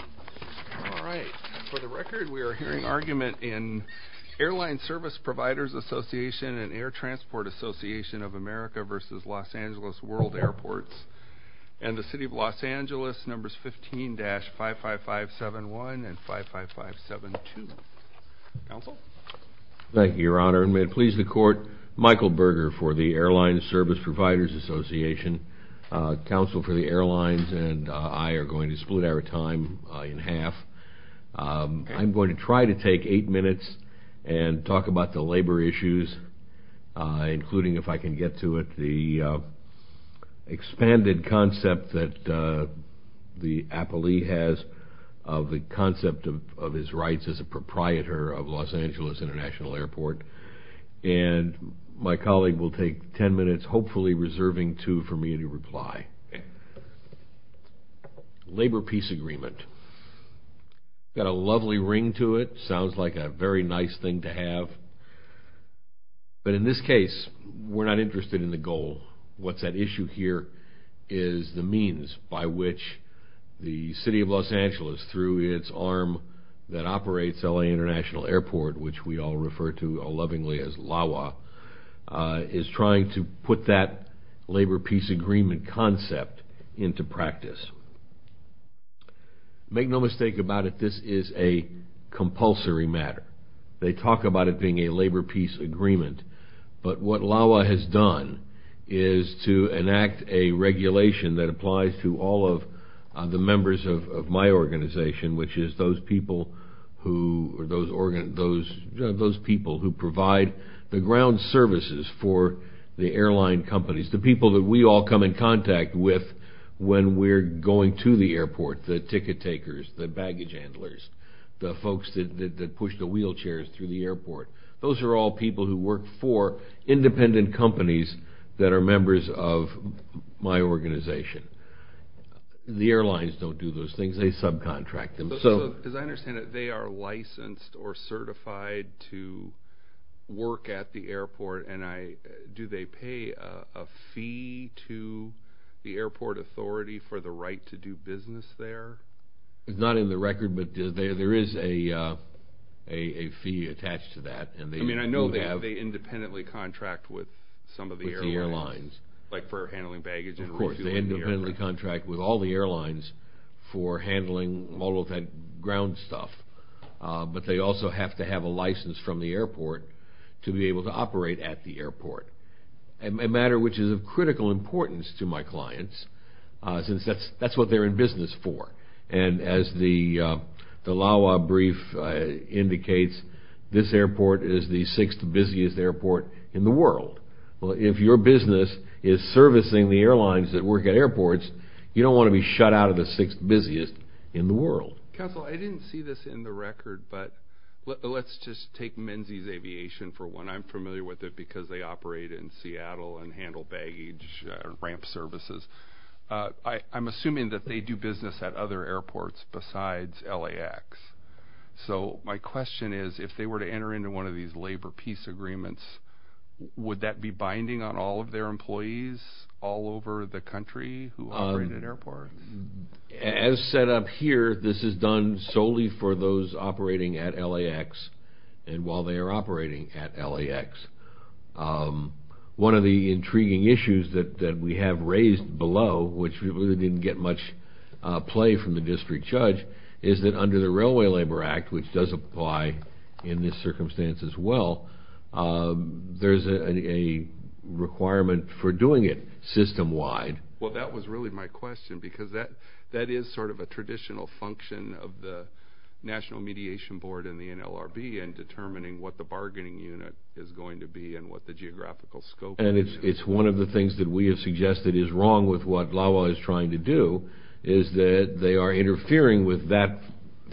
All right, for the record we are hearing argument in Airline Service Providers Association and Air Transport Association of America versus Los Angeles World Airports and the City of Los Angeles numbers 15-55571 and 55572. Thank you, Your Honor, and may it please the Court, Michael Berger for the Airline Service Providers Association, counsel for the airlines, and I are going to split our time in half. I'm going to try to take eight minutes and talk about the labor issues, including, if I can get to it, the expanded concept that the appellee has of the concept of his rights as a proprietor of Los Angeles International Airport, and my colleague will take ten minutes, hopefully reserving two for me to reply. Labor peace agreement, got a lovely ring to it, sounds like a very nice thing to have, but in this case we're not interested in the goal. What's at issue here is the means by which the City of Los Angeles, through its arm that operates LA International Airport, which we all refer to lovingly as LAWA, is trying to put that labor peace agreement concept into practice. Make no mistake about it, this is a compulsory matter. They talk about it being a labor peace agreement, but what LAWA has done is to enact a regulation that applies to all of the members of my organization, which is those people who provide the ground services for the airline companies, the people that we all come in contact with when we're going to the airport, the ticket takers, the baggage handlers, the folks that push the wheelchairs through the airport. Those are all people who work for independent companies that are members of my organization. The airlines don't do those things, they subcontract them. As I understand it, they are licensed or certified to work at the airport, and do they pay a fee to the airport authority for the right to do business there? It's not in the record, but there is a fee attached to that. I mean, I know they independently contract with some of the airlines, like for handling baggage. Of course, they independently contract with all the ground stuff, but they also have to have a license from the airport to be able to operate at the airport, a matter which is of critical importance to my clients, since that's what they're in business for. And as the LAWA brief indicates, this airport is the sixth busiest airport in the world. Well, if your business is servicing the airlines that work at airports, you don't want to be shut out of the sixth busiest in the world. Counsel, I didn't see this in the record, but let's just take Menzies Aviation for one. I'm familiar with it because they operate in Seattle and handle baggage ramp services. I'm assuming that they do business at other airports besides LAX. So my question is, if they were to enter into one of these labor peace agreements, would that be binding on all of their employees all over the country who operate at airports? As set up here, this is done solely for those operating at LAX and while they are operating at LAX. One of the intriguing issues that we have raised below, which we really didn't get much play from the district judge, is that under the Railway Labor Act, which does apply in this circumstance as well, there's a requirement for doing it system-wide. Well, that was really my question because that is sort of a traditional function of the National Mediation Board and the NLRB in determining what the bargaining unit is going to be and what the geographical scope is. And it's one of the things that we have suggested is wrong with what LAWA is trying to do, is that they are interfering with that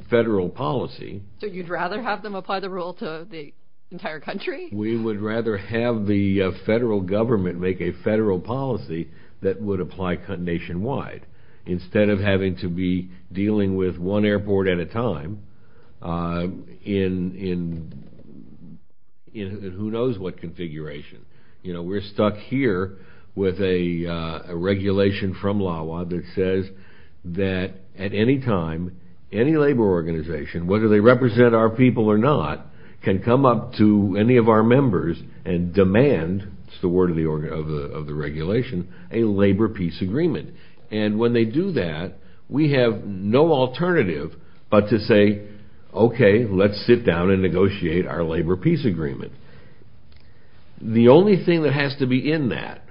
federal policy. So you'd rather have them apply the rule to the entire country? We would rather have the federal government make a federal policy that would apply nationwide, instead of having to be dealing with one airport at a time in who knows what configuration. You know, we're stuck here with a regulation from LAWA that says that at any time, any labor organization, whether they have a contract or not, can demand, it's the word of the regulation, a labor peace agreement. And when they do that, we have no alternative but to say, okay, let's sit down and negotiate our labor peace agreement. The only thing that has to be in that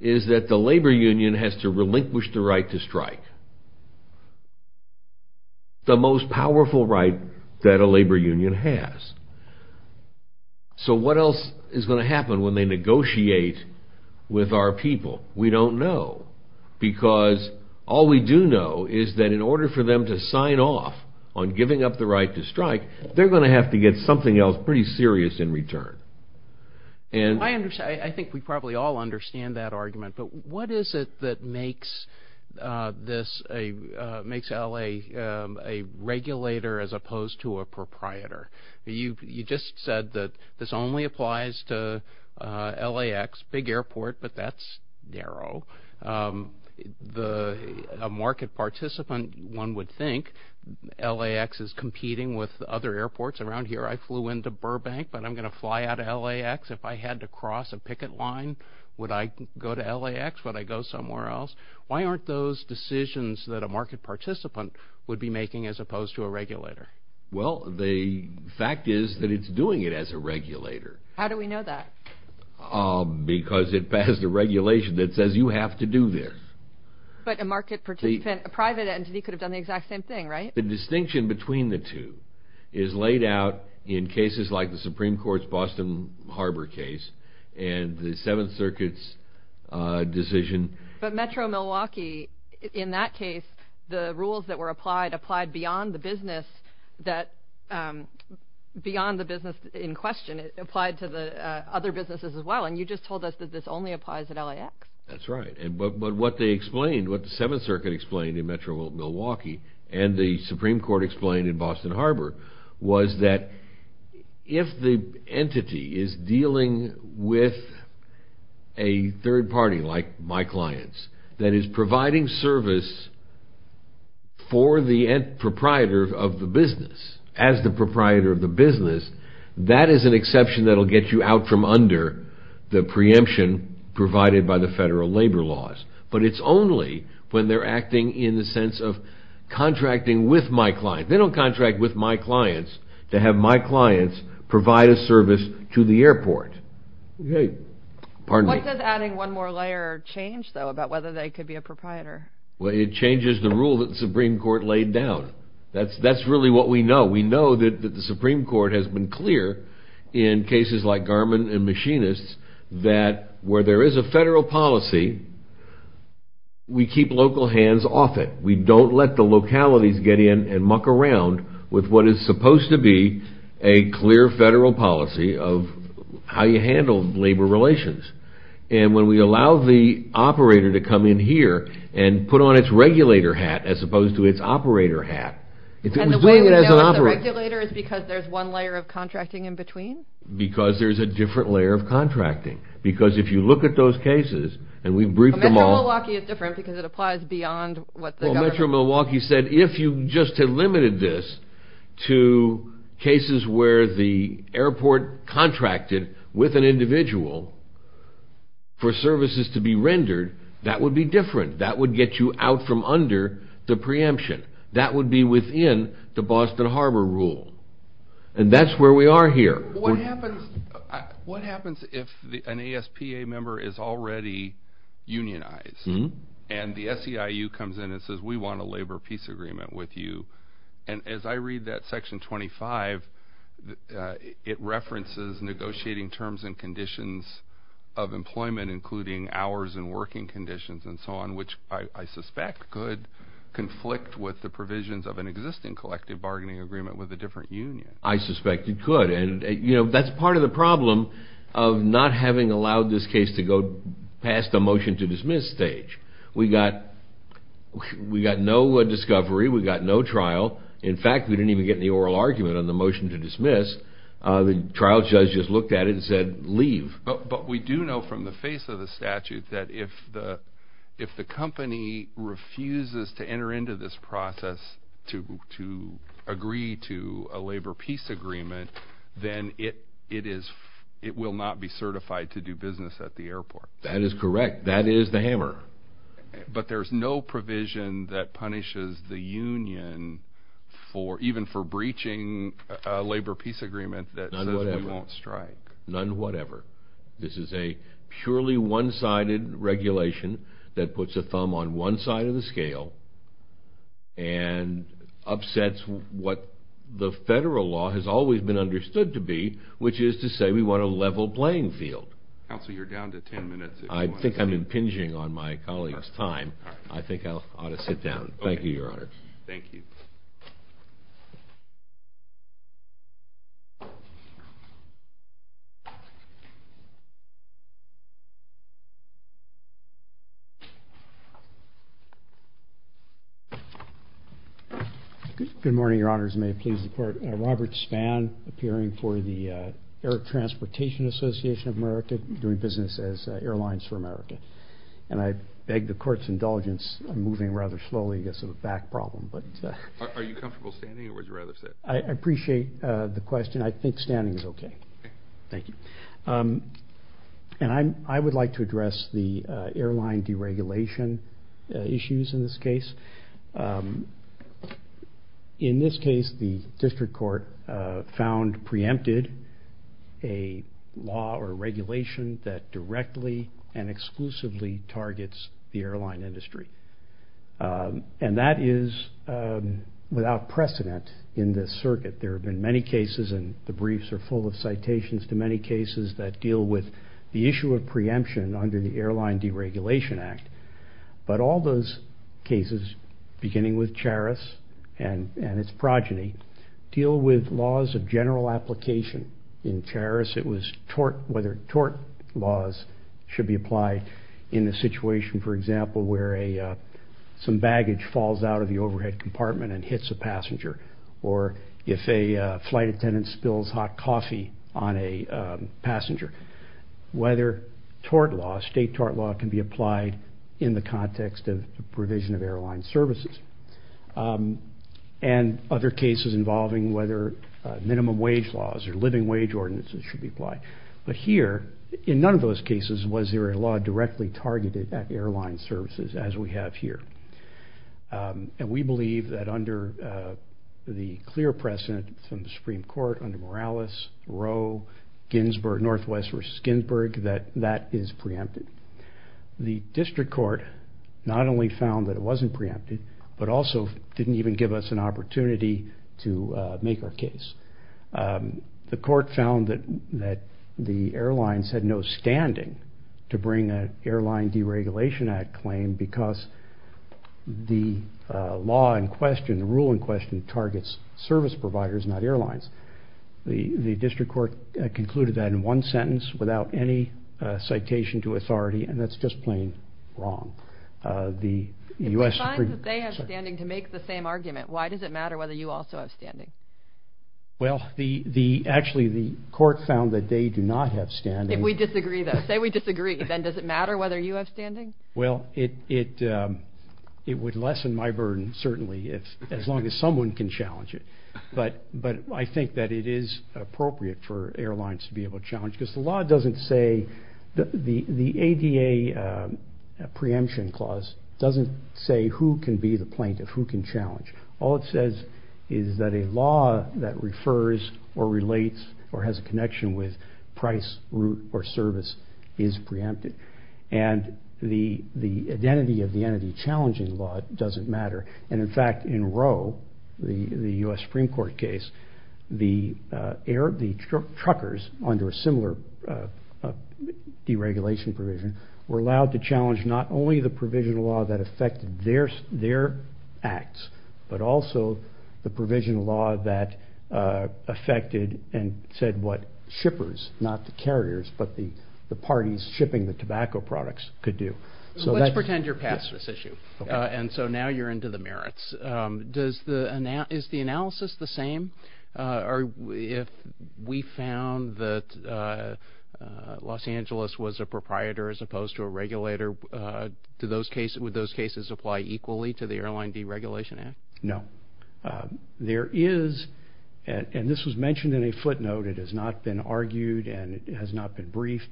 is that the labor union has to relinquish the right to strike. What is going to happen when they negotiate with our people? We don't know. Because all we do know is that in order for them to sign off on giving up the right to strike, they're going to have to get something else pretty serious in return. I think we probably all understand that argument, but what is it that makes LA a regulator as opposed to a proprietor? You just said that this only applies to LAX, big airport, but that's narrow. A market participant, one would think, LAX is competing with other airports. Around here, I flew into Burbank, but I'm going to fly out of LAX. If I had to cross a picket line, would I go to LAX? Would I go somewhere else? Why aren't those decisions that a market participant would be making as opposed to a regulator? How do we know that? Because it passed a regulation that says you have to do this. But a market participant, a private entity, could have done the exact same thing, right? The distinction between the two is laid out in cases like the Supreme Court's Boston Harbor case and the Seventh Circuit's decision. But Metro Milwaukee, in that case, the rules that were applied applied beyond the business in question. It applied to the other businesses as well, and you just told us that this only applies at LAX. That's right, but what they explained, what the Seventh Circuit explained in Metro Milwaukee and the Supreme Court explained in Boston Harbor was that if the entity is dealing with a third party like my clients that is providing service for the proprietor of the business, as the proprietor of the business, that is an exception that will get you out from under the preemption provided by the federal labor laws. But it's only when they're acting in the sense of contracting with my client. They don't contract with my clients to have my clients provide a service to the proprietor. What does adding one more layer change, though, about whether they could be a proprietor? Well, it changes the rule that the Supreme Court laid down. That's really what we know. We know that the Supreme Court has been clear in cases like Garmin and Machinists that where there is a federal policy, we keep local hands off it. We don't let the localities get in and muck around with what is supposed to be a clear federal policy of how you handle labor relations. And when we allow the operator to come in here and put on its regulator hat as opposed to its operator hat, if it was doing it as an operator... And the way we know it's a regulator is because there's one layer of contracting in between? Because there's a different layer of contracting. Because if you look at those cases, and we've briefed them all... Metro Milwaukee is different because it applies beyond what the government... Well, Metro Milwaukee said if you just had limited this to cases where the services to be rendered, that would be different. That would get you out from under the preemption. That would be within the Boston Harbor rule. And that's where we are here. What happens if an ASPA member is already unionized and the SEIU comes in and says, we want a labor peace agreement with you? And as I read that section 25, it references negotiating terms and conditions of employment including hours and working conditions and so on, which I suspect could conflict with the provisions of an existing collective bargaining agreement with a different union. I suspect it could. And that's part of the problem of not having allowed this case to go past the motion to dismiss stage. We got no discovery. We got no evidence. We didn't get the oral argument on the motion to dismiss. The trial judge just looked at it and said, leave. But we do know from the face of the statute that if the company refuses to enter into this process to agree to a labor peace agreement, then it will not be certified to do business at the airport. That is correct. That is the hammer. But there's no provision that punishes the union even for breaching a labor peace agreement that says we won't strike. None whatever. This is a purely one-sided regulation that puts a thumb on one side of the scale and upsets what the federal law has always been understood to be, which is to say we want a level playing field. Counsel, you're down to ten minutes. I think I'm impinging on my colleague's time. I think I ought to sit down. Thank you, Your Honor. Thank you. Good morning, Your Honors. May it please the Court? Robert Spann, appearing for the Air Transportation Association of America, doing business as Airlines for America. And I beg the Court's indulgence. I'm moving rather slowly. I guess I have a back problem. Are you comfortable standing or would you rather sit? I appreciate the question. I think standing is okay. Thank you. And I would like to address the airline deregulation issues in this case. In this case, the district court found preempted a law or regulation that directly and exclusively targets the airline industry. And that is without precedent in this circuit. There have been many cases and the briefs are full of citations to many cases that deal with the issue of preemption under the Airline Deregulation Act. But all those cases, beginning with Charis and its progeny, deal with laws of general application. In Charis, it was whether tort laws should be applied in the situation, for example, where some baggage falls out of the overhead compartment and hits a passenger or if a flight attendant spills hot coffee on a passenger. Whether state tort law can be applied in the context of the provision of airline services. And other cases involving whether minimum wage laws or living wage ordinances should be applied. But here, in none of those cases was there a law directly targeted at airline services as we have here. And we believe that under the clear precedent from the Supreme Court, under Morales, Roe, Northwest versus Ginsburg, that that is preempted. The District Court not only found that it wasn't preempted, but also didn't even give us an opportunity to make our case. The court found that the airlines had no standing to bring an Airline Deregulation Act claim because the law in question, targets service providers, not airlines. The District Court concluded that in one sentence, without any citation to authority, and that's just plain wrong. If we find that they have standing to make the same argument, why does it matter whether you also have standing? Well, actually, the court found that they do not have standing. If we disagree, though, say we disagree, then does it matter whether you have standing? Well, it would lessen my burden, certainly, as long as someone can challenge it. But I think that it is appropriate for airlines to be able to challenge because the law doesn't say, the ADA preemption clause doesn't say who can be the plaintiff, who can challenge. All it says is that a law that refers or relates or has a connection with price, route, or service is preempted. And the identity of the entity challenging the law doesn't matter. And, in fact, in Roe, the U.S. Supreme Court case, the truckers under a similar deregulation provision were allowed to challenge not only the provisional law that affected their acts, but also the provisional law that affected and said what shippers, not the carriers, but the parties shipping the tobacco products could do. Let's pretend you're past this issue. And so now you're into the merits. Is the analysis the same? If we found that Los Angeles was a proprietor as opposed to a regulator, would those cases apply equally to the Airline Deregulation Act? No. There is, and this was mentioned in a footnote, it has not been argued and it has not been briefed.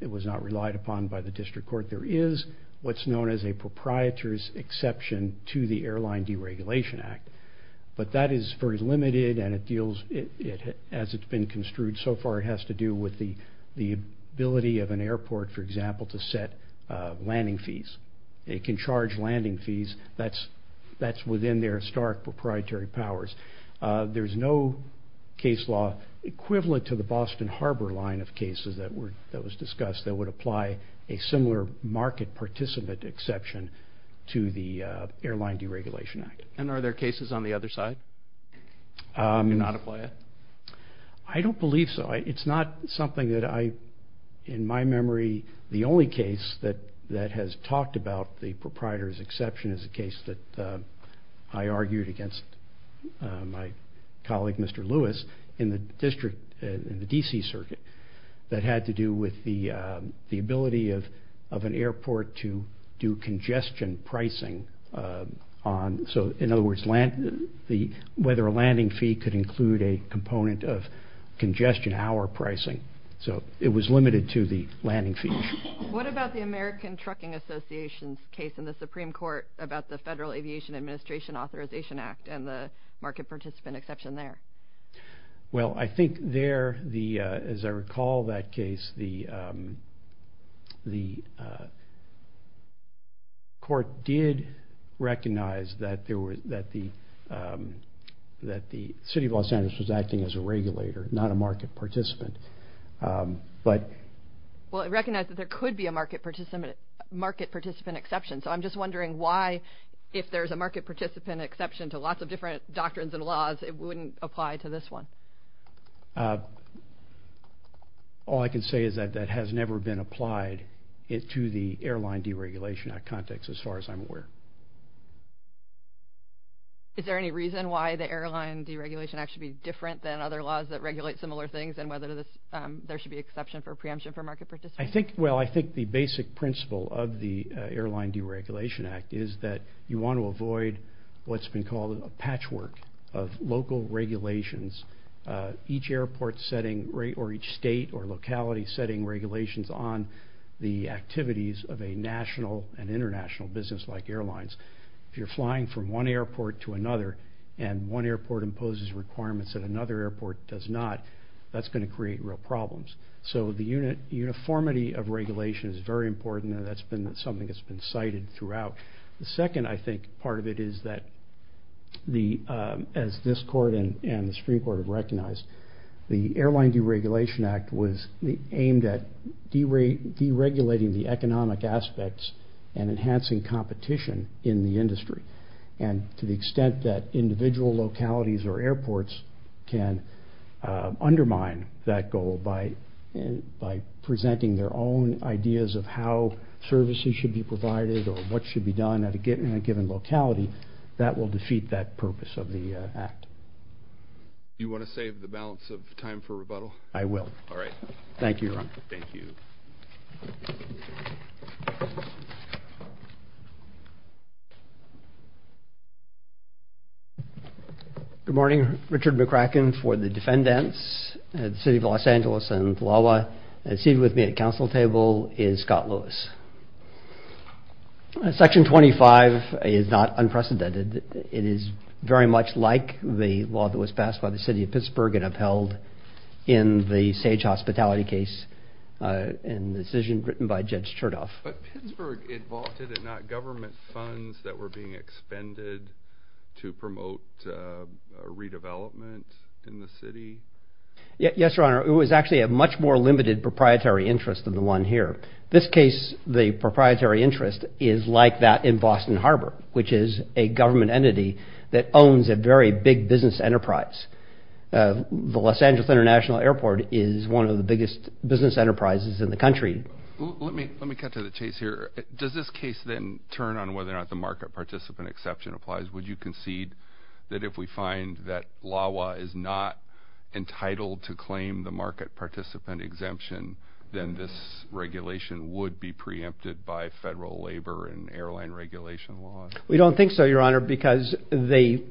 It was not relied upon by the district court. But there is what's known as a proprietor's exception to the Airline Deregulation Act. But that is very limited and it deals, as it's been construed so far, it has to do with the ability of an airport, for example, to set landing fees. It can charge landing fees. That's within their historic proprietary powers. There's no case law equivalent to the Boston Harbor line of cases that was discussed that would apply a similar market participant exception to the Airline Deregulation Act. And are there cases on the other side that do not apply it? I don't believe so. It's not something that I, in my memory, the only case that has talked about the proprietor's exception is a case that I argued against my colleague, Mr. Lewis, in the district, in the D.C. circuit, that had to do with the ability of an airport to do congestion pricing on, so in other words, whether a landing fee could include a component of congestion hour pricing. So it was limited to the landing fee. What about the American Trucking Association's case in the Supreme Court about the Federal Aviation Administration Authorization Act and the market participant exception there? Well, I think there, as I recall that case, the court did recognize that the city of Los Angeles was acting as a regulator, not a market participant. Well, it recognized that there could be a market participant exception, so I'm just wondering why, if there's a market participant exception to lots of different doctrines and laws, it wouldn't apply to this one. All I can say is that that has never been applied to the Airline Deregulation Act context, as far as I'm aware. Is there any reason why the Airline Deregulation Act should be different than other laws that regulate similar things, and whether there should be exception for preemption for market participants? I think, well, I think the basic principle of the Airline Deregulation Act is that you want to avoid what's been called a patchwork of local regulations, each airport setting or each state or locality setting regulations on the activities of a national and international business like airlines. If you're flying from one airport to another and one airport imposes requirements that another airport does not, that's going to create real problems. So the uniformity of regulation is very important, and that's something that's been cited throughout. The second, I think, part of it is that, as this court and the Supreme Court have recognized, the Airline Deregulation Act was aimed at deregulating the economic aspects and enhancing competition in the industry, and to the extent that individual localities or airports can undermine that goal by presenting their own ideas of how services should be provided or what should be done at a given locality, that will defeat that purpose of the act. Do you want to save the balance of time for rebuttal? I will. All right. Thank you, Your Honor. Thank you. Good morning. Richard McCracken for the defendants. The city of Los Angeles and Palawa. Seated with me at the council table is Scott Lewis. Section 25 is not unprecedented. It is very much like the law that was passed by the city of Pittsburgh and upheld in the Sage Hospitality case and the decision written by Judge Chertoff. But Pittsburgh, it vaulted, if not government funds, that were being expended to promote redevelopment in the city? Yes, Your Honor. It was actually a much more limited proprietary interest than the one here. This case, the proprietary interest, is like that in Boston Harbor, which is a government entity that owns a very big business enterprise. The Los Angeles International Airport is one of the biggest business enterprises in the country. Let me cut to the chase here. Does this case then turn on whether or not the market participant exception applies? Would you concede that if we find that LAWA is not entitled to claim the market participant exemption, then this regulation would be preempted by federal labor and airline regulation laws? We don't think so, Your Honor, because the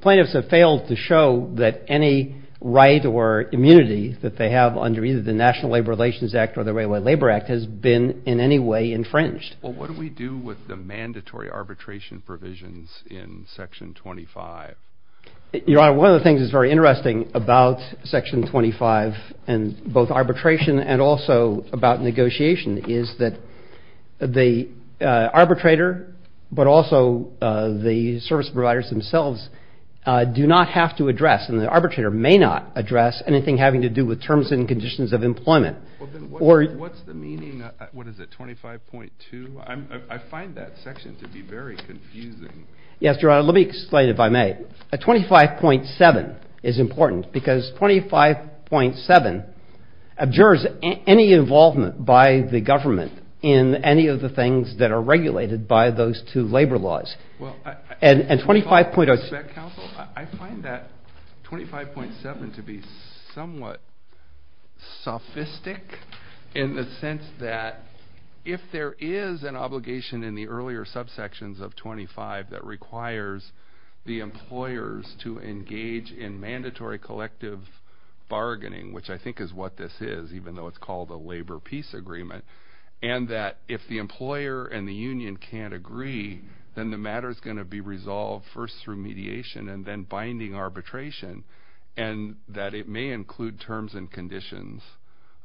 plaintiffs have failed to show that any right or immunity that they have under either the National Labor Relations Act or the Railway Labor Act has been in any way infringed. Well, what do we do with the mandatory arbitration provisions in Section 25? Your Honor, one of the things that's very interesting about Section 25, and both arbitration and also about negotiation, is that the arbitrator but also the service providers themselves do not have to address, and the arbitrator may not address anything having to do with terms and conditions of employment. What's the meaning, what is it, 25.2? I find that section to be very confusing. Yes, Your Honor, let me explain it if I may. 25.7 is important because 25.7 abjures any involvement by the government in any of the things that are regulated by those two labor laws. I find that 25.7 to be somewhat sophistic in the sense that if there is an obligation in the earlier subsections of 25 that requires the employers to engage in mandatory collective bargaining, which I think is what this is even though it's called a labor peace agreement, and that if the employer and the union can't agree, then the matter is going to be resolved first through mediation and then binding arbitration, and that it may include terms and conditions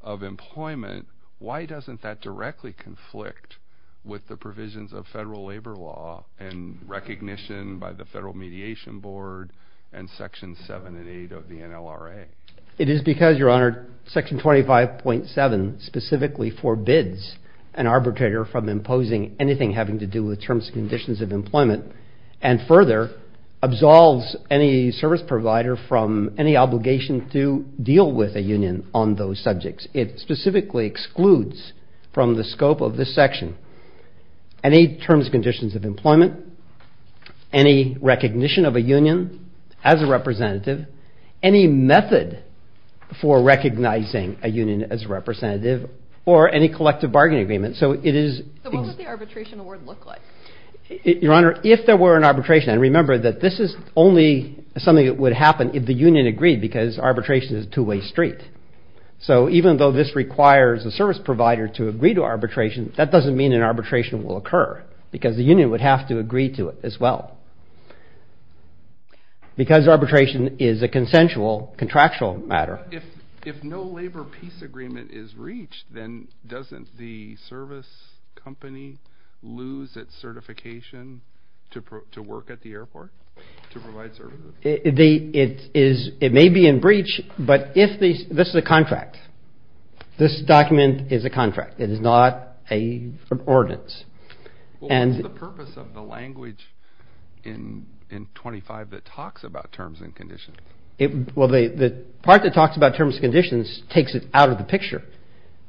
of employment. Why doesn't that directly conflict with the provisions of federal labor law and recognition by the Federal Mediation Board and Section 7 and 8 of the NLRA? It is because, Your Honor, Section 25.7 specifically forbids an arbitrator from imposing anything having to do with terms and conditions of employment and further absolves any service provider from any obligation to deal with a union on those subjects. It specifically excludes from the scope of this section any terms and conditions of employment, any recognition of a union as a representative, any method for recognizing a union as a representative, or any collective bargaining agreement. So what would the arbitration award look like? Your Honor, if there were an arbitration, and remember that this is only something that would happen if the union agreed because arbitration is a two-way street. So even though this requires a service provider to agree to arbitration, that doesn't mean an arbitration will occur because the union would have to agree to it as well. Because arbitration is a consensual, contractual matter. If no labor peace agreement is reached, then doesn't the service company lose its certification to work at the airport to provide services? It may be in breach, but this is a contract. This document is a contract. It is not an ordinance. What is the purpose of the language in 25 that talks about terms and conditions? Well, the part that talks about terms and conditions takes it out of the picture.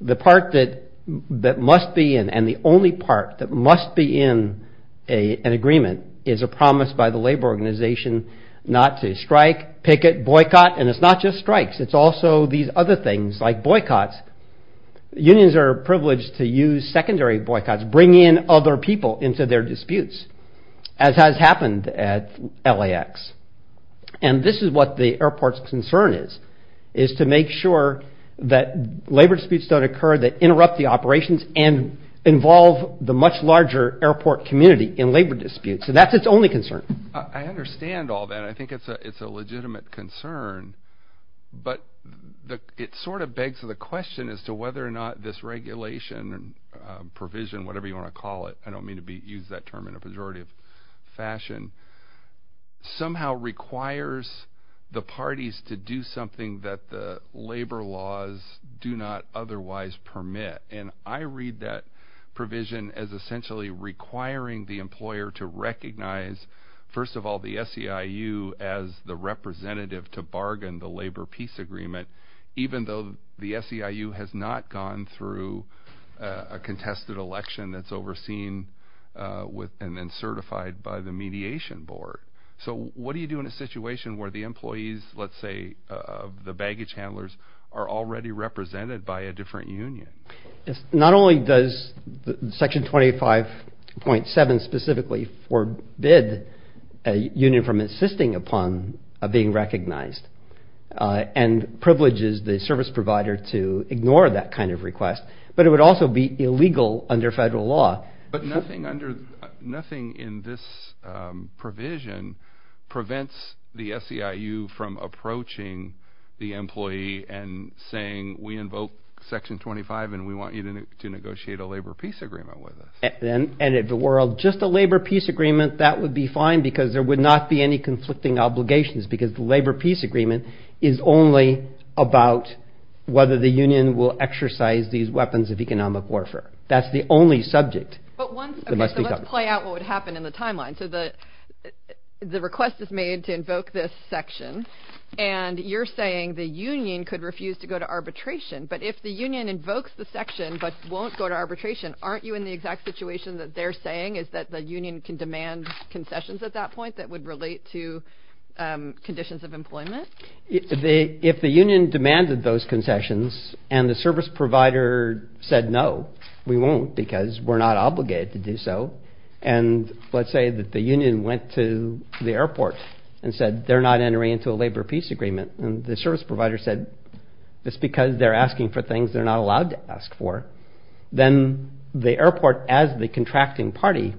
The part that must be in, and the only part that must be in an agreement, is a promise by the labor organization not to strike, picket, boycott, and it's not just strikes. It's also these other things like boycotts. Unions are privileged to use secondary boycotts, bring in other people into their disputes, as has happened at LAX. And this is what the airport's concern is, is to make sure that labor disputes don't occur that interrupt the operations and involve the much larger airport community in labor disputes. So that's its only concern. I understand all that. I think it's a legitimate concern. But it sort of begs the question as to whether or not this regulation, provision, whatever you want to call it, I don't mean to use that term in a pejorative fashion, somehow requires the parties to do something that the labor laws do not otherwise permit. And I read that provision as essentially requiring the employer to recognize, first of all, the SEIU as the representative to bargain the labor peace agreement, even though the SEIU has not gone through a contested election that's overseen and then certified by the mediation board. So what do you do in a situation where the employees, let's say the baggage handlers, are already represented by a different union? Not only does Section 25.7 specifically forbid a union from insisting upon being recognized and privileges the service provider to ignore that kind of request, but it would also be illegal under federal law. But nothing in this provision prevents the SEIU from approaching the employee and saying we invoke Section 25 and we want you to negotiate a labor peace agreement with us. And if the world, just a labor peace agreement, that would be fine because there would not be any conflicting obligations because the labor peace agreement is only about whether the union will exercise these weapons of economic warfare. That's the only subject. Okay, so let's play out what would happen in the timeline. So the request is made to invoke this section, and you're saying the union could refuse to go to arbitration. But if the union invokes the section but won't go to arbitration, aren't you in the exact situation that they're saying, is that the union can demand concessions at that point that would relate to conditions of employment? If the union demanded those concessions and the service provider said no, we won't because we're not obligated to do so, and let's say that the union went to the airport and said they're not entering into a labor peace agreement, and the service provider said it's because they're asking for things they're not allowed to ask for, then the airport, as the contracting party,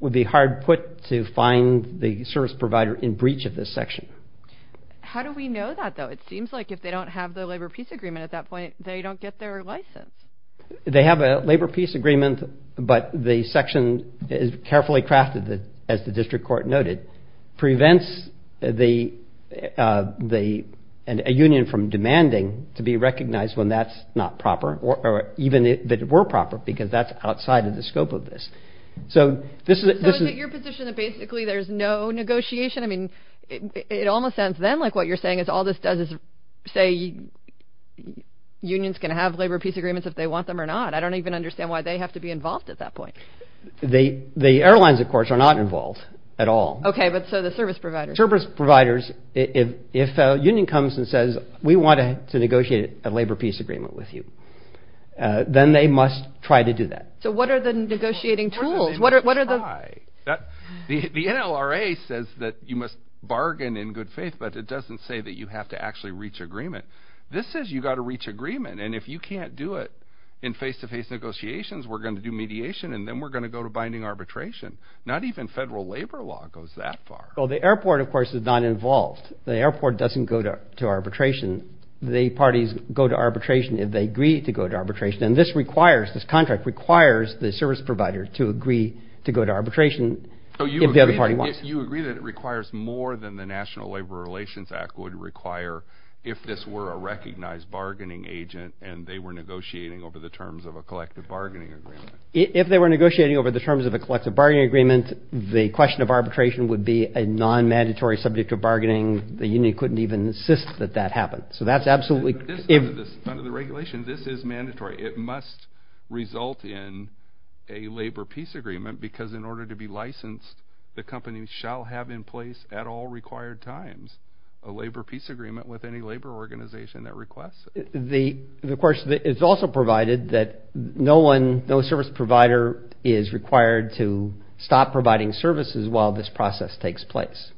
would be hard put to find the service provider in breach of this section. How do we know that, though? It seems like if they don't have the labor peace agreement at that point, they don't get their license. They have a labor peace agreement, but the section is carefully crafted, as the district court noted, prevents a union from demanding to be recognized when that's not proper, or even if it were proper, because that's outside of the scope of this. So is it your position that basically there's no negotiation? I mean, it almost sounds then like what you're saying is all this does is say unions can have labor peace agreements if they want them or not. I don't even understand why they have to be involved at that point. The airlines, of course, are not involved at all. Okay, but so the service providers. Service providers, if a union comes and says, we want to negotiate a labor peace agreement with you, then they must try to do that. So what are the negotiating tools? The NLRA says that you must bargain in good faith, but it doesn't say that you have to actually reach agreement. This says you've got to reach agreement, and if you can't do it in face-to-face negotiations, we're going to do mediation, and then we're going to go to binding arbitration. Not even federal labor law goes that far. Well, the airport, of course, is not involved. The airport doesn't go to arbitration. The parties go to arbitration if they agree to go to arbitration, and this requires, this contract requires the service provider to agree to go to arbitration if the other party wants. So you agree that it requires more than the National Labor Relations Act would require if this were a recognized bargaining agent, and they were negotiating over the terms of a collective bargaining agreement. If they were negotiating over the terms of a collective bargaining agreement, the question of arbitration would be a non-mandatory subject to bargaining. The union couldn't even insist that that happened, so that's absolutely. Under the regulation, this is mandatory. It must result in a labor peace agreement because in order to be licensed, the company shall have in place at all required times a labor peace agreement with any labor organization that requests it. The question is also provided that no one, no service provider is required to stop providing services while this process takes place.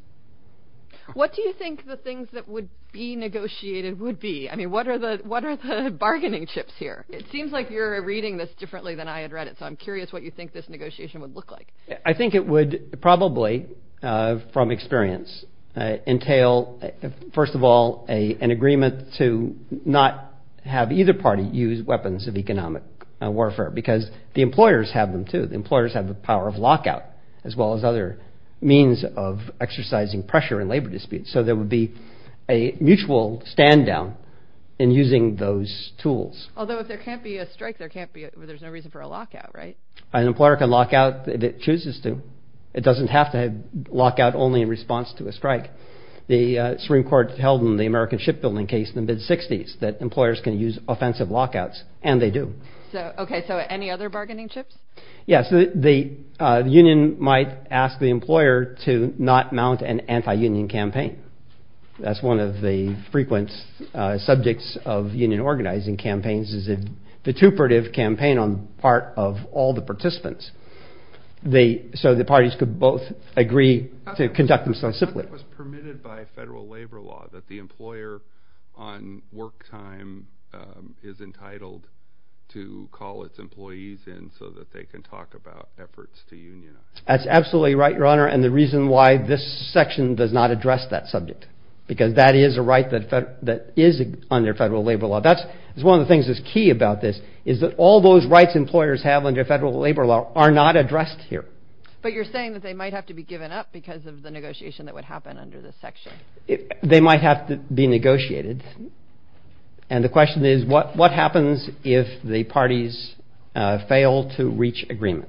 What do you think the things that would be negotiated would be? I mean, what are the bargaining chips here? It seems like you're reading this differently than I had read it, so I'm curious what you think this negotiation would look like. I think it would probably, from experience, entail, first of all, an agreement to not have either party use weapons of economic warfare because the employers have them, too. The employers have the power of lockout as well as other means of exercising pressure in labor disputes, so there would be a mutual stand down in using those tools. Although if there can't be a strike, there's no reason for a lockout, right? An employer can lockout if it chooses to. It doesn't have to lockout only in response to a strike. The Supreme Court held in the American Shipbuilding case in the mid-60s that employers can use offensive lockouts, and they do. Okay, so any other bargaining chips? Yes, the union might ask the employer to not mount an anti-union campaign. That's one of the frequent subjects of union organizing campaigns is a vituperative campaign on part of all the participants. So the parties could both agree to conduct themselves simply. But that was permitted by federal labor law that the employer on work time is entitled to call its employees in so that they can talk about efforts to unionize. That's absolutely right, Your Honor, and the reason why this section does not address that subject, because that is a right that is under federal labor law. That's one of the things that's key about this is that all those rights employers have under federal labor law are not addressed here. But you're saying that they might have to be given up because of the negotiation that would happen under this section. They might have to be negotiated. And the question is, what happens if the parties fail to reach agreement?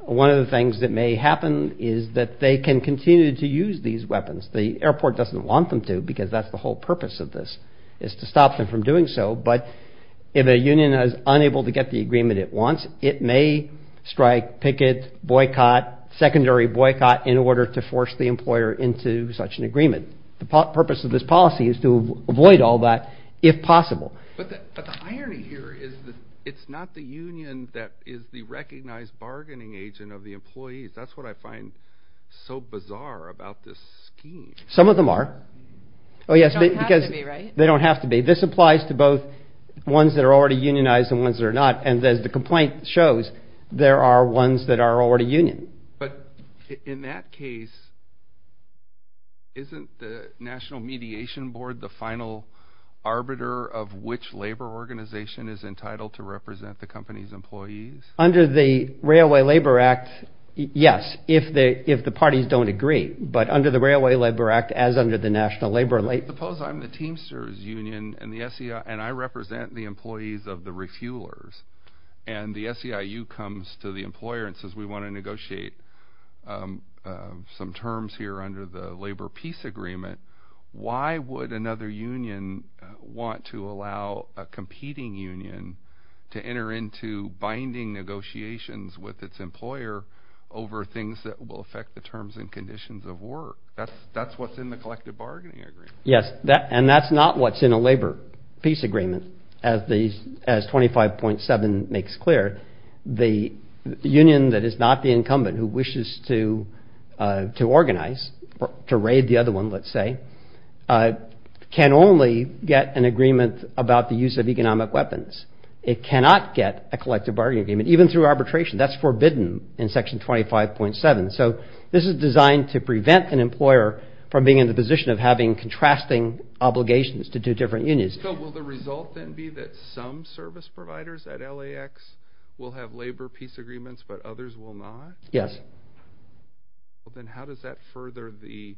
One of the things that may happen is that they can continue to use these weapons. The airport doesn't want them to because that's the whole purpose of this is to stop them from doing so. But if a union is unable to get the agreement it wants, it may strike, picket, boycott, secondary boycott in order to force the employer into such an agreement. The purpose of this policy is to avoid all that if possible. But the irony here is that it's not the union that is the recognized bargaining agent of the employees. That's what I find so bizarre about this scheme. Some of them are. Oh, yes, because they don't have to be. This applies to both ones that are already unionized and ones that are not. And as the complaint shows, there are ones that are already union. But in that case, isn't the National Mediation Board the final arbiter of which labor organization is entitled to represent the company's employees? Under the Railway Labor Act? Yes. If they if the parties don't agree. But under the Railway Labor Act, as under the National Labor. Suppose I'm the Teamsters Union and the SEI and I represent the employees of the refuelers. And the SEIU comes to the employer and says, we want to negotiate some terms here under the labor peace agreement. Why would another union want to allow a competing union to enter into binding negotiations with its employer over things that will affect the terms and conditions of work? That's that's what's in the collective bargaining agreement. Yes. And that's not what's in a labor peace agreement. As 25.7 makes clear, the union that is not the incumbent who wishes to to organize to raid the other one, let's say, can only get an agreement about the use of economic weapons. It cannot get a collective bargaining agreement even through arbitration. That's forbidden in Section 25.7. So this is designed to prevent an employer from being in the position of having contrasting obligations to two different unions. So will the result then be that some service providers at LAX will have labor peace agreements, but others will not? Yes. Then how does that further the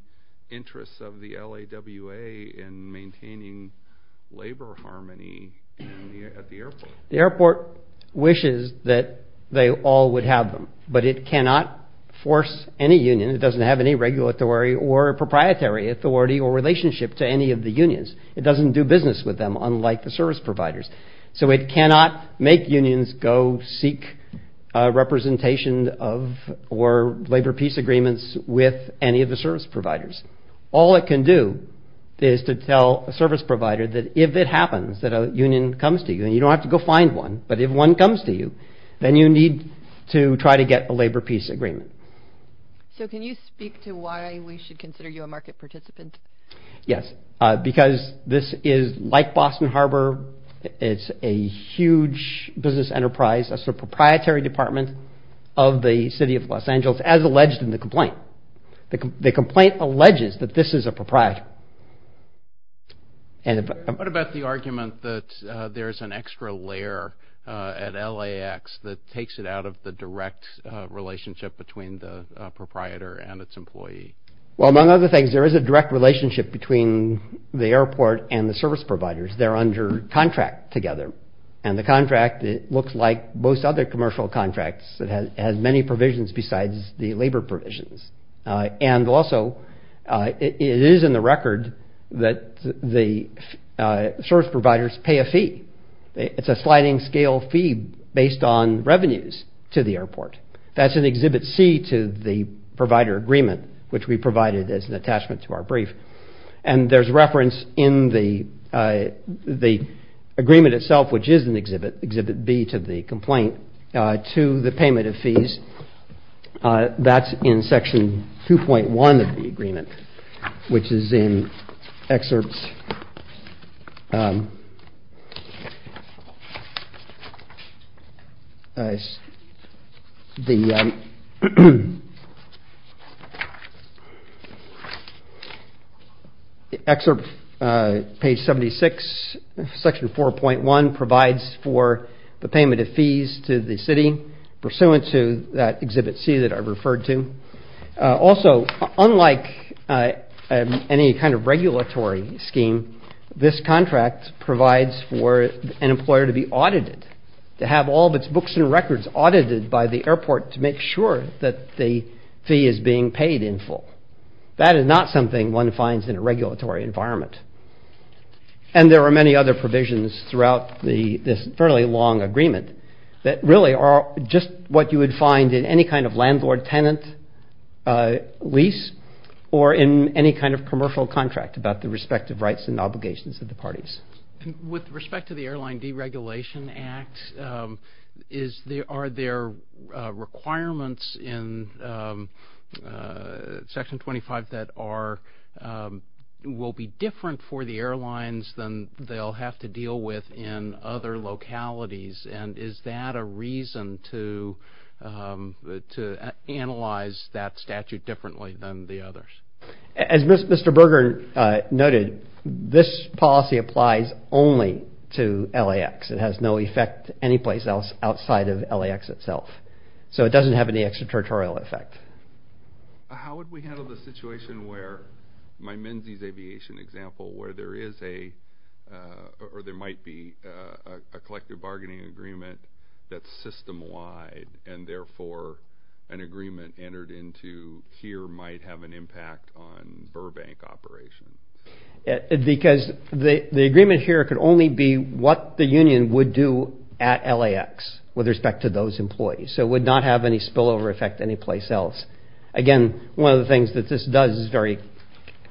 interests of the L.A.W.A. in maintaining labor harmony at the airport? The airport wishes that they all would have them, but it cannot force any union. It doesn't have any regulatory or proprietary authority or relationship to any of the unions. It doesn't do business with them, unlike the service providers. So it cannot make unions go seek representation of or labor peace agreements with any of the service providers. All it can do is to tell a service provider that if it happens that a union comes to you and you don't have to go find one. But if one comes to you, then you need to try to get a labor peace agreement. So can you speak to why we should consider you a market participant? Yes, because this is like Boston Harbor. It's a huge business enterprise. It's a proprietary department of the city of Los Angeles, as alleged in the complaint. The complaint alleges that this is a proprietor. What about the argument that there is an extra layer at LAX that takes it out of the direct relationship between the proprietor and its employee? Well, among other things, there is a direct relationship between the airport and the service providers there under contract together. And the contract looks like most other commercial contracts that has many provisions besides the labor provisions. And also it is in the record that the service providers pay a fee. It's a sliding scale fee based on revenues to the airport. That's in Exhibit C to the provider agreement, which we provided as an attachment to our brief. And there's reference in the agreement itself, which is in Exhibit B to the complaint, to the payment of fees. That's in Section 2.1 of the agreement, which is in Excerpts. Excerpt page 76, Section 4.1 provides for the payment of fees to the city pursuant to that Exhibit C that I referred to. Also, unlike any kind of regulatory scheme, this contract provides for an employer to be audited, to have all of its books and records audited by the airport to make sure that the fee is being paid in full. That is not something one finds in a regulatory environment. And there are many other provisions throughout this fairly long agreement that really are just what you would find in any kind of landlord-tenant lease or in any kind of commercial contract about the respective rights and obligations of the parties. With respect to the Airline Deregulation Act, are there requirements in Section 25 that will be different for the airlines than they'll have to deal with in other localities? And is that a reason to analyze that statute differently than the others? As Mr. Berger noted, this policy applies only to LAX. It has no effect anyplace else outside of LAX itself. So it doesn't have any extraterritorial effect. How would we handle the situation where, my Menzies Aviation example, where there is a, or there might be a collective bargaining agreement that's system-wide and therefore an agreement entered into here might have an impact on Burbank operations? Because the agreement here could only be what the union would do at LAX with respect to those employees. So it would not have any spillover effect anyplace else. Again, one of the things that this does is very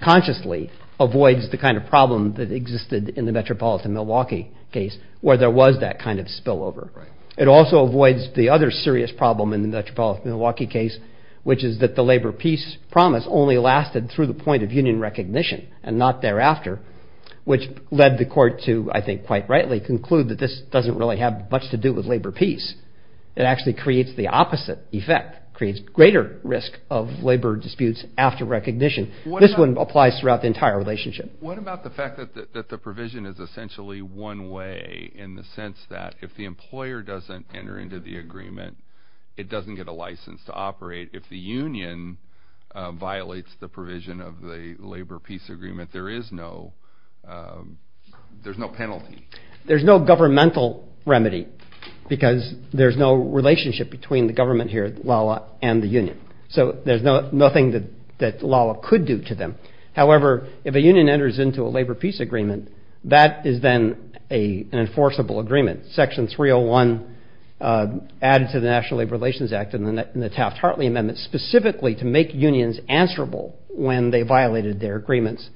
consciously avoids the kind of problem that existed in the Metropolitan Milwaukee case where there was that kind of spillover. It also avoids the other serious problem in the Metropolitan Milwaukee case, which is that the labor peace promise only lasted through the point of union recognition and not thereafter, which led the court to, I think quite rightly, conclude that this doesn't really have much to do with labor peace. It actually creates the opposite effect, creates greater risk of labor disputes after recognition. This one applies throughout the entire relationship. What about the fact that the provision is essentially one way in the sense that if the employer doesn't enter into the agreement, it doesn't get a license to operate? If the union violates the provision of the labor peace agreement, there is no penalty. There's no governmental remedy because there's no relationship between the government here, LALA, and the union. So there's nothing that LALA could do to them. However, if a union enters into a labor peace agreement, that is then an enforceable agreement. Section 301 added to the National Labor Relations Act and the Taft-Hartley Amendment specifically to make unions answerable when they violated their agreements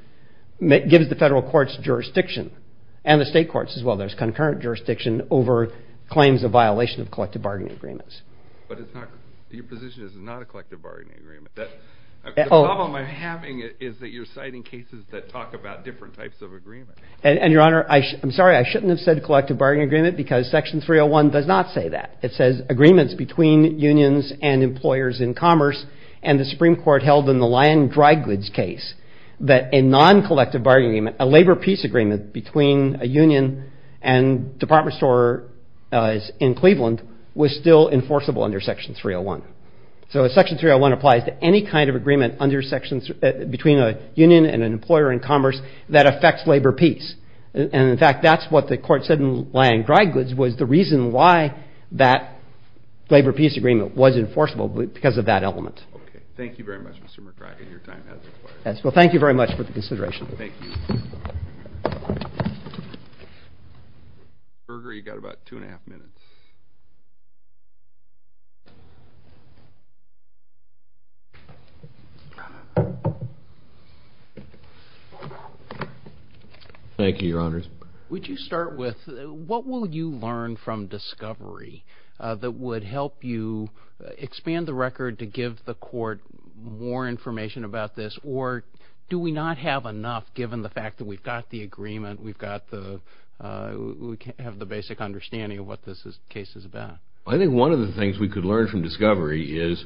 gives the federal courts jurisdiction and the state courts as well. There's concurrent jurisdiction over claims of violation of collective bargaining agreements. But your position is not a collective bargaining agreement. The problem I'm having is that you're citing cases that talk about different types of agreement. And, Your Honor, I'm sorry. I shouldn't have said collective bargaining agreement because Section 301 does not say that. It says agreements between unions and employers in commerce and the Supreme Court held in the Lyon dry goods case that a non-collective bargaining agreement, a labor peace agreement between a union and department stores in Cleveland was still enforceable under Section 301. So Section 301 applies to any kind of agreement under sections between a union and an employer in commerce that affects labor peace. And, in fact, that's what the court said in Lyon dry goods was the reason why that labor peace agreement was enforceable because of that element. Okay. Thank you very much, Mr. McGregor. Your time has expired. Well, thank you very much for the consideration. Thank you. McGregor, you've got about two and a half minutes. Thank you, Your Honors. Would you start with what will you learn from discovery that would help you expand the record to give the court more information about this? Or do we not have enough given the fact that we've got the agreement, we have the basic understanding of what this case is about? I think one of the things we could learn from discovery is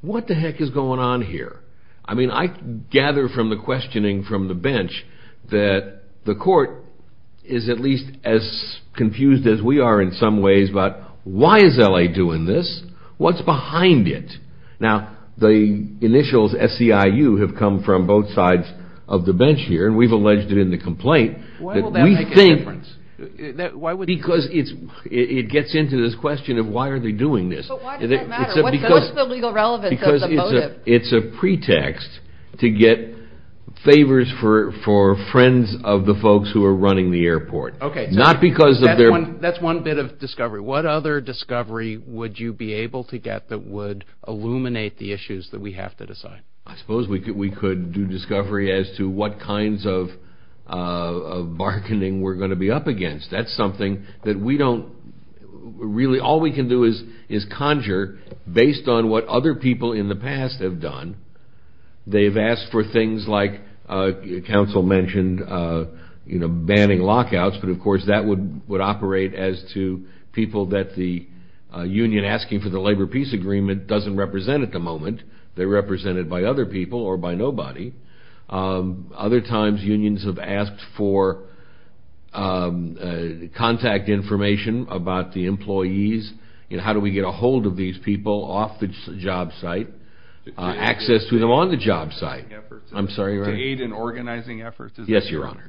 what the heck is going on here? I mean, I gather from the questioning from the bench that the court is at least as confused as we are in some ways about why is L.A. doing this? What's behind it? Now, the initials SCIU have come from both sides of the bench here, and we've alleged it in the complaint. Why will that make a difference? Because it gets into this question of why are they doing this? But why does that matter? What's the legal relevance of the motive? Because it's a pretext to get favors for friends of the folks who are running the airport. Okay. That's one bit of discovery. What other discovery would you be able to get that would illuminate the issues that we have to decide? I suppose we could do discovery as to what kinds of bargaining we're going to be up against. That's something that we don't really, all we can do is conjure based on what other people in the past have done. They've asked for things like counsel mentioned, you know, banning lockouts. But, of course, that would operate as to people that the union asking for the labor peace agreement doesn't represent at the moment. They're represented by other people or by nobody. Other times unions have asked for contact information about the employees and how do we get a hold of these people off the job site. Access to them on the job site. I'm sorry. To aid in organizing efforts. Yes, Your Honor.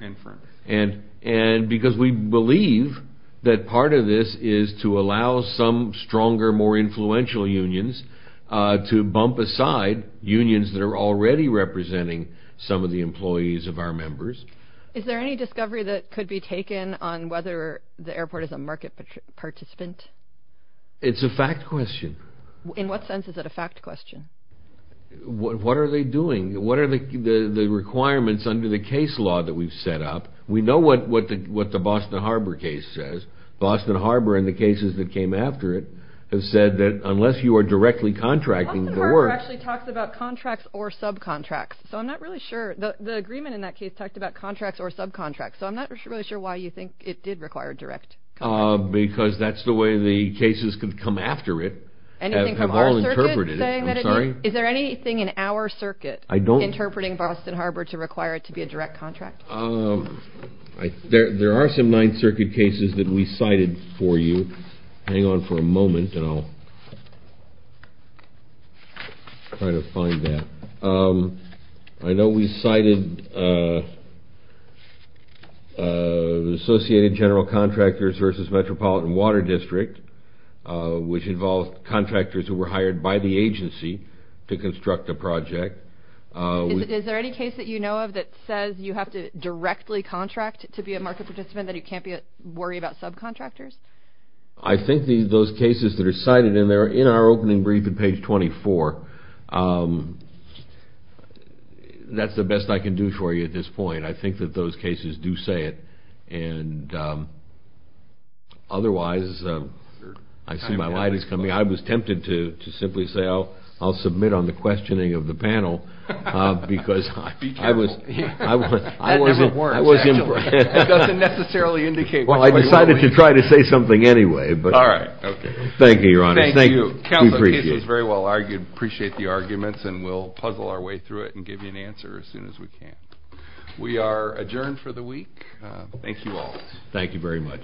And because we believe that part of this is to allow some stronger, more influential unions to bump aside unions that are already representing some of the employees of our members. Is there any discovery that could be taken on whether the airport is a market participant? It's a fact question. In what sense is it a fact question? What are they doing? What are the requirements under the case law that we've set up? We know what the Boston Harbor case says. Boston Harbor and the cases that came after it have said that unless you are directly contracting, it works. Boston Harbor actually talks about contracts or subcontracts. So, I'm not really sure. The agreement in that case talked about contracts or subcontracts. So, I'm not really sure why you think it did require direct contracts. Because that's the way the cases that come after it have all interpreted it. Is there anything in our circuit interpreting Boston Harbor to require it to be a direct contract? There are some Ninth Circuit cases that we cited for you. Hang on for a moment and I'll try to find that. I know we cited the Associated General Contractors versus Metropolitan Water District, which involved contractors who were hired by the agency to construct a project. Is there any case that you know of that says you have to directly contract to be a market participant, that you can't worry about subcontractors? I think those cases that are cited in there are in our opening brief on page 24. That's the best I can do for you at this point. I think that those cases do say it. Otherwise, I see my light is coming. I was tempted to simply say I'll submit on the questioning of the panel. Be careful. It doesn't necessarily indicate what you want to do. I decided to try to say something anyway. All right. Thank you, Your Honor. Thank you. Counsel, the case was very well argued. We appreciate the arguments and we'll puzzle our way through it and give you an answer as soon as we can. We are adjourned for the week. Thank you all. Thank you very much.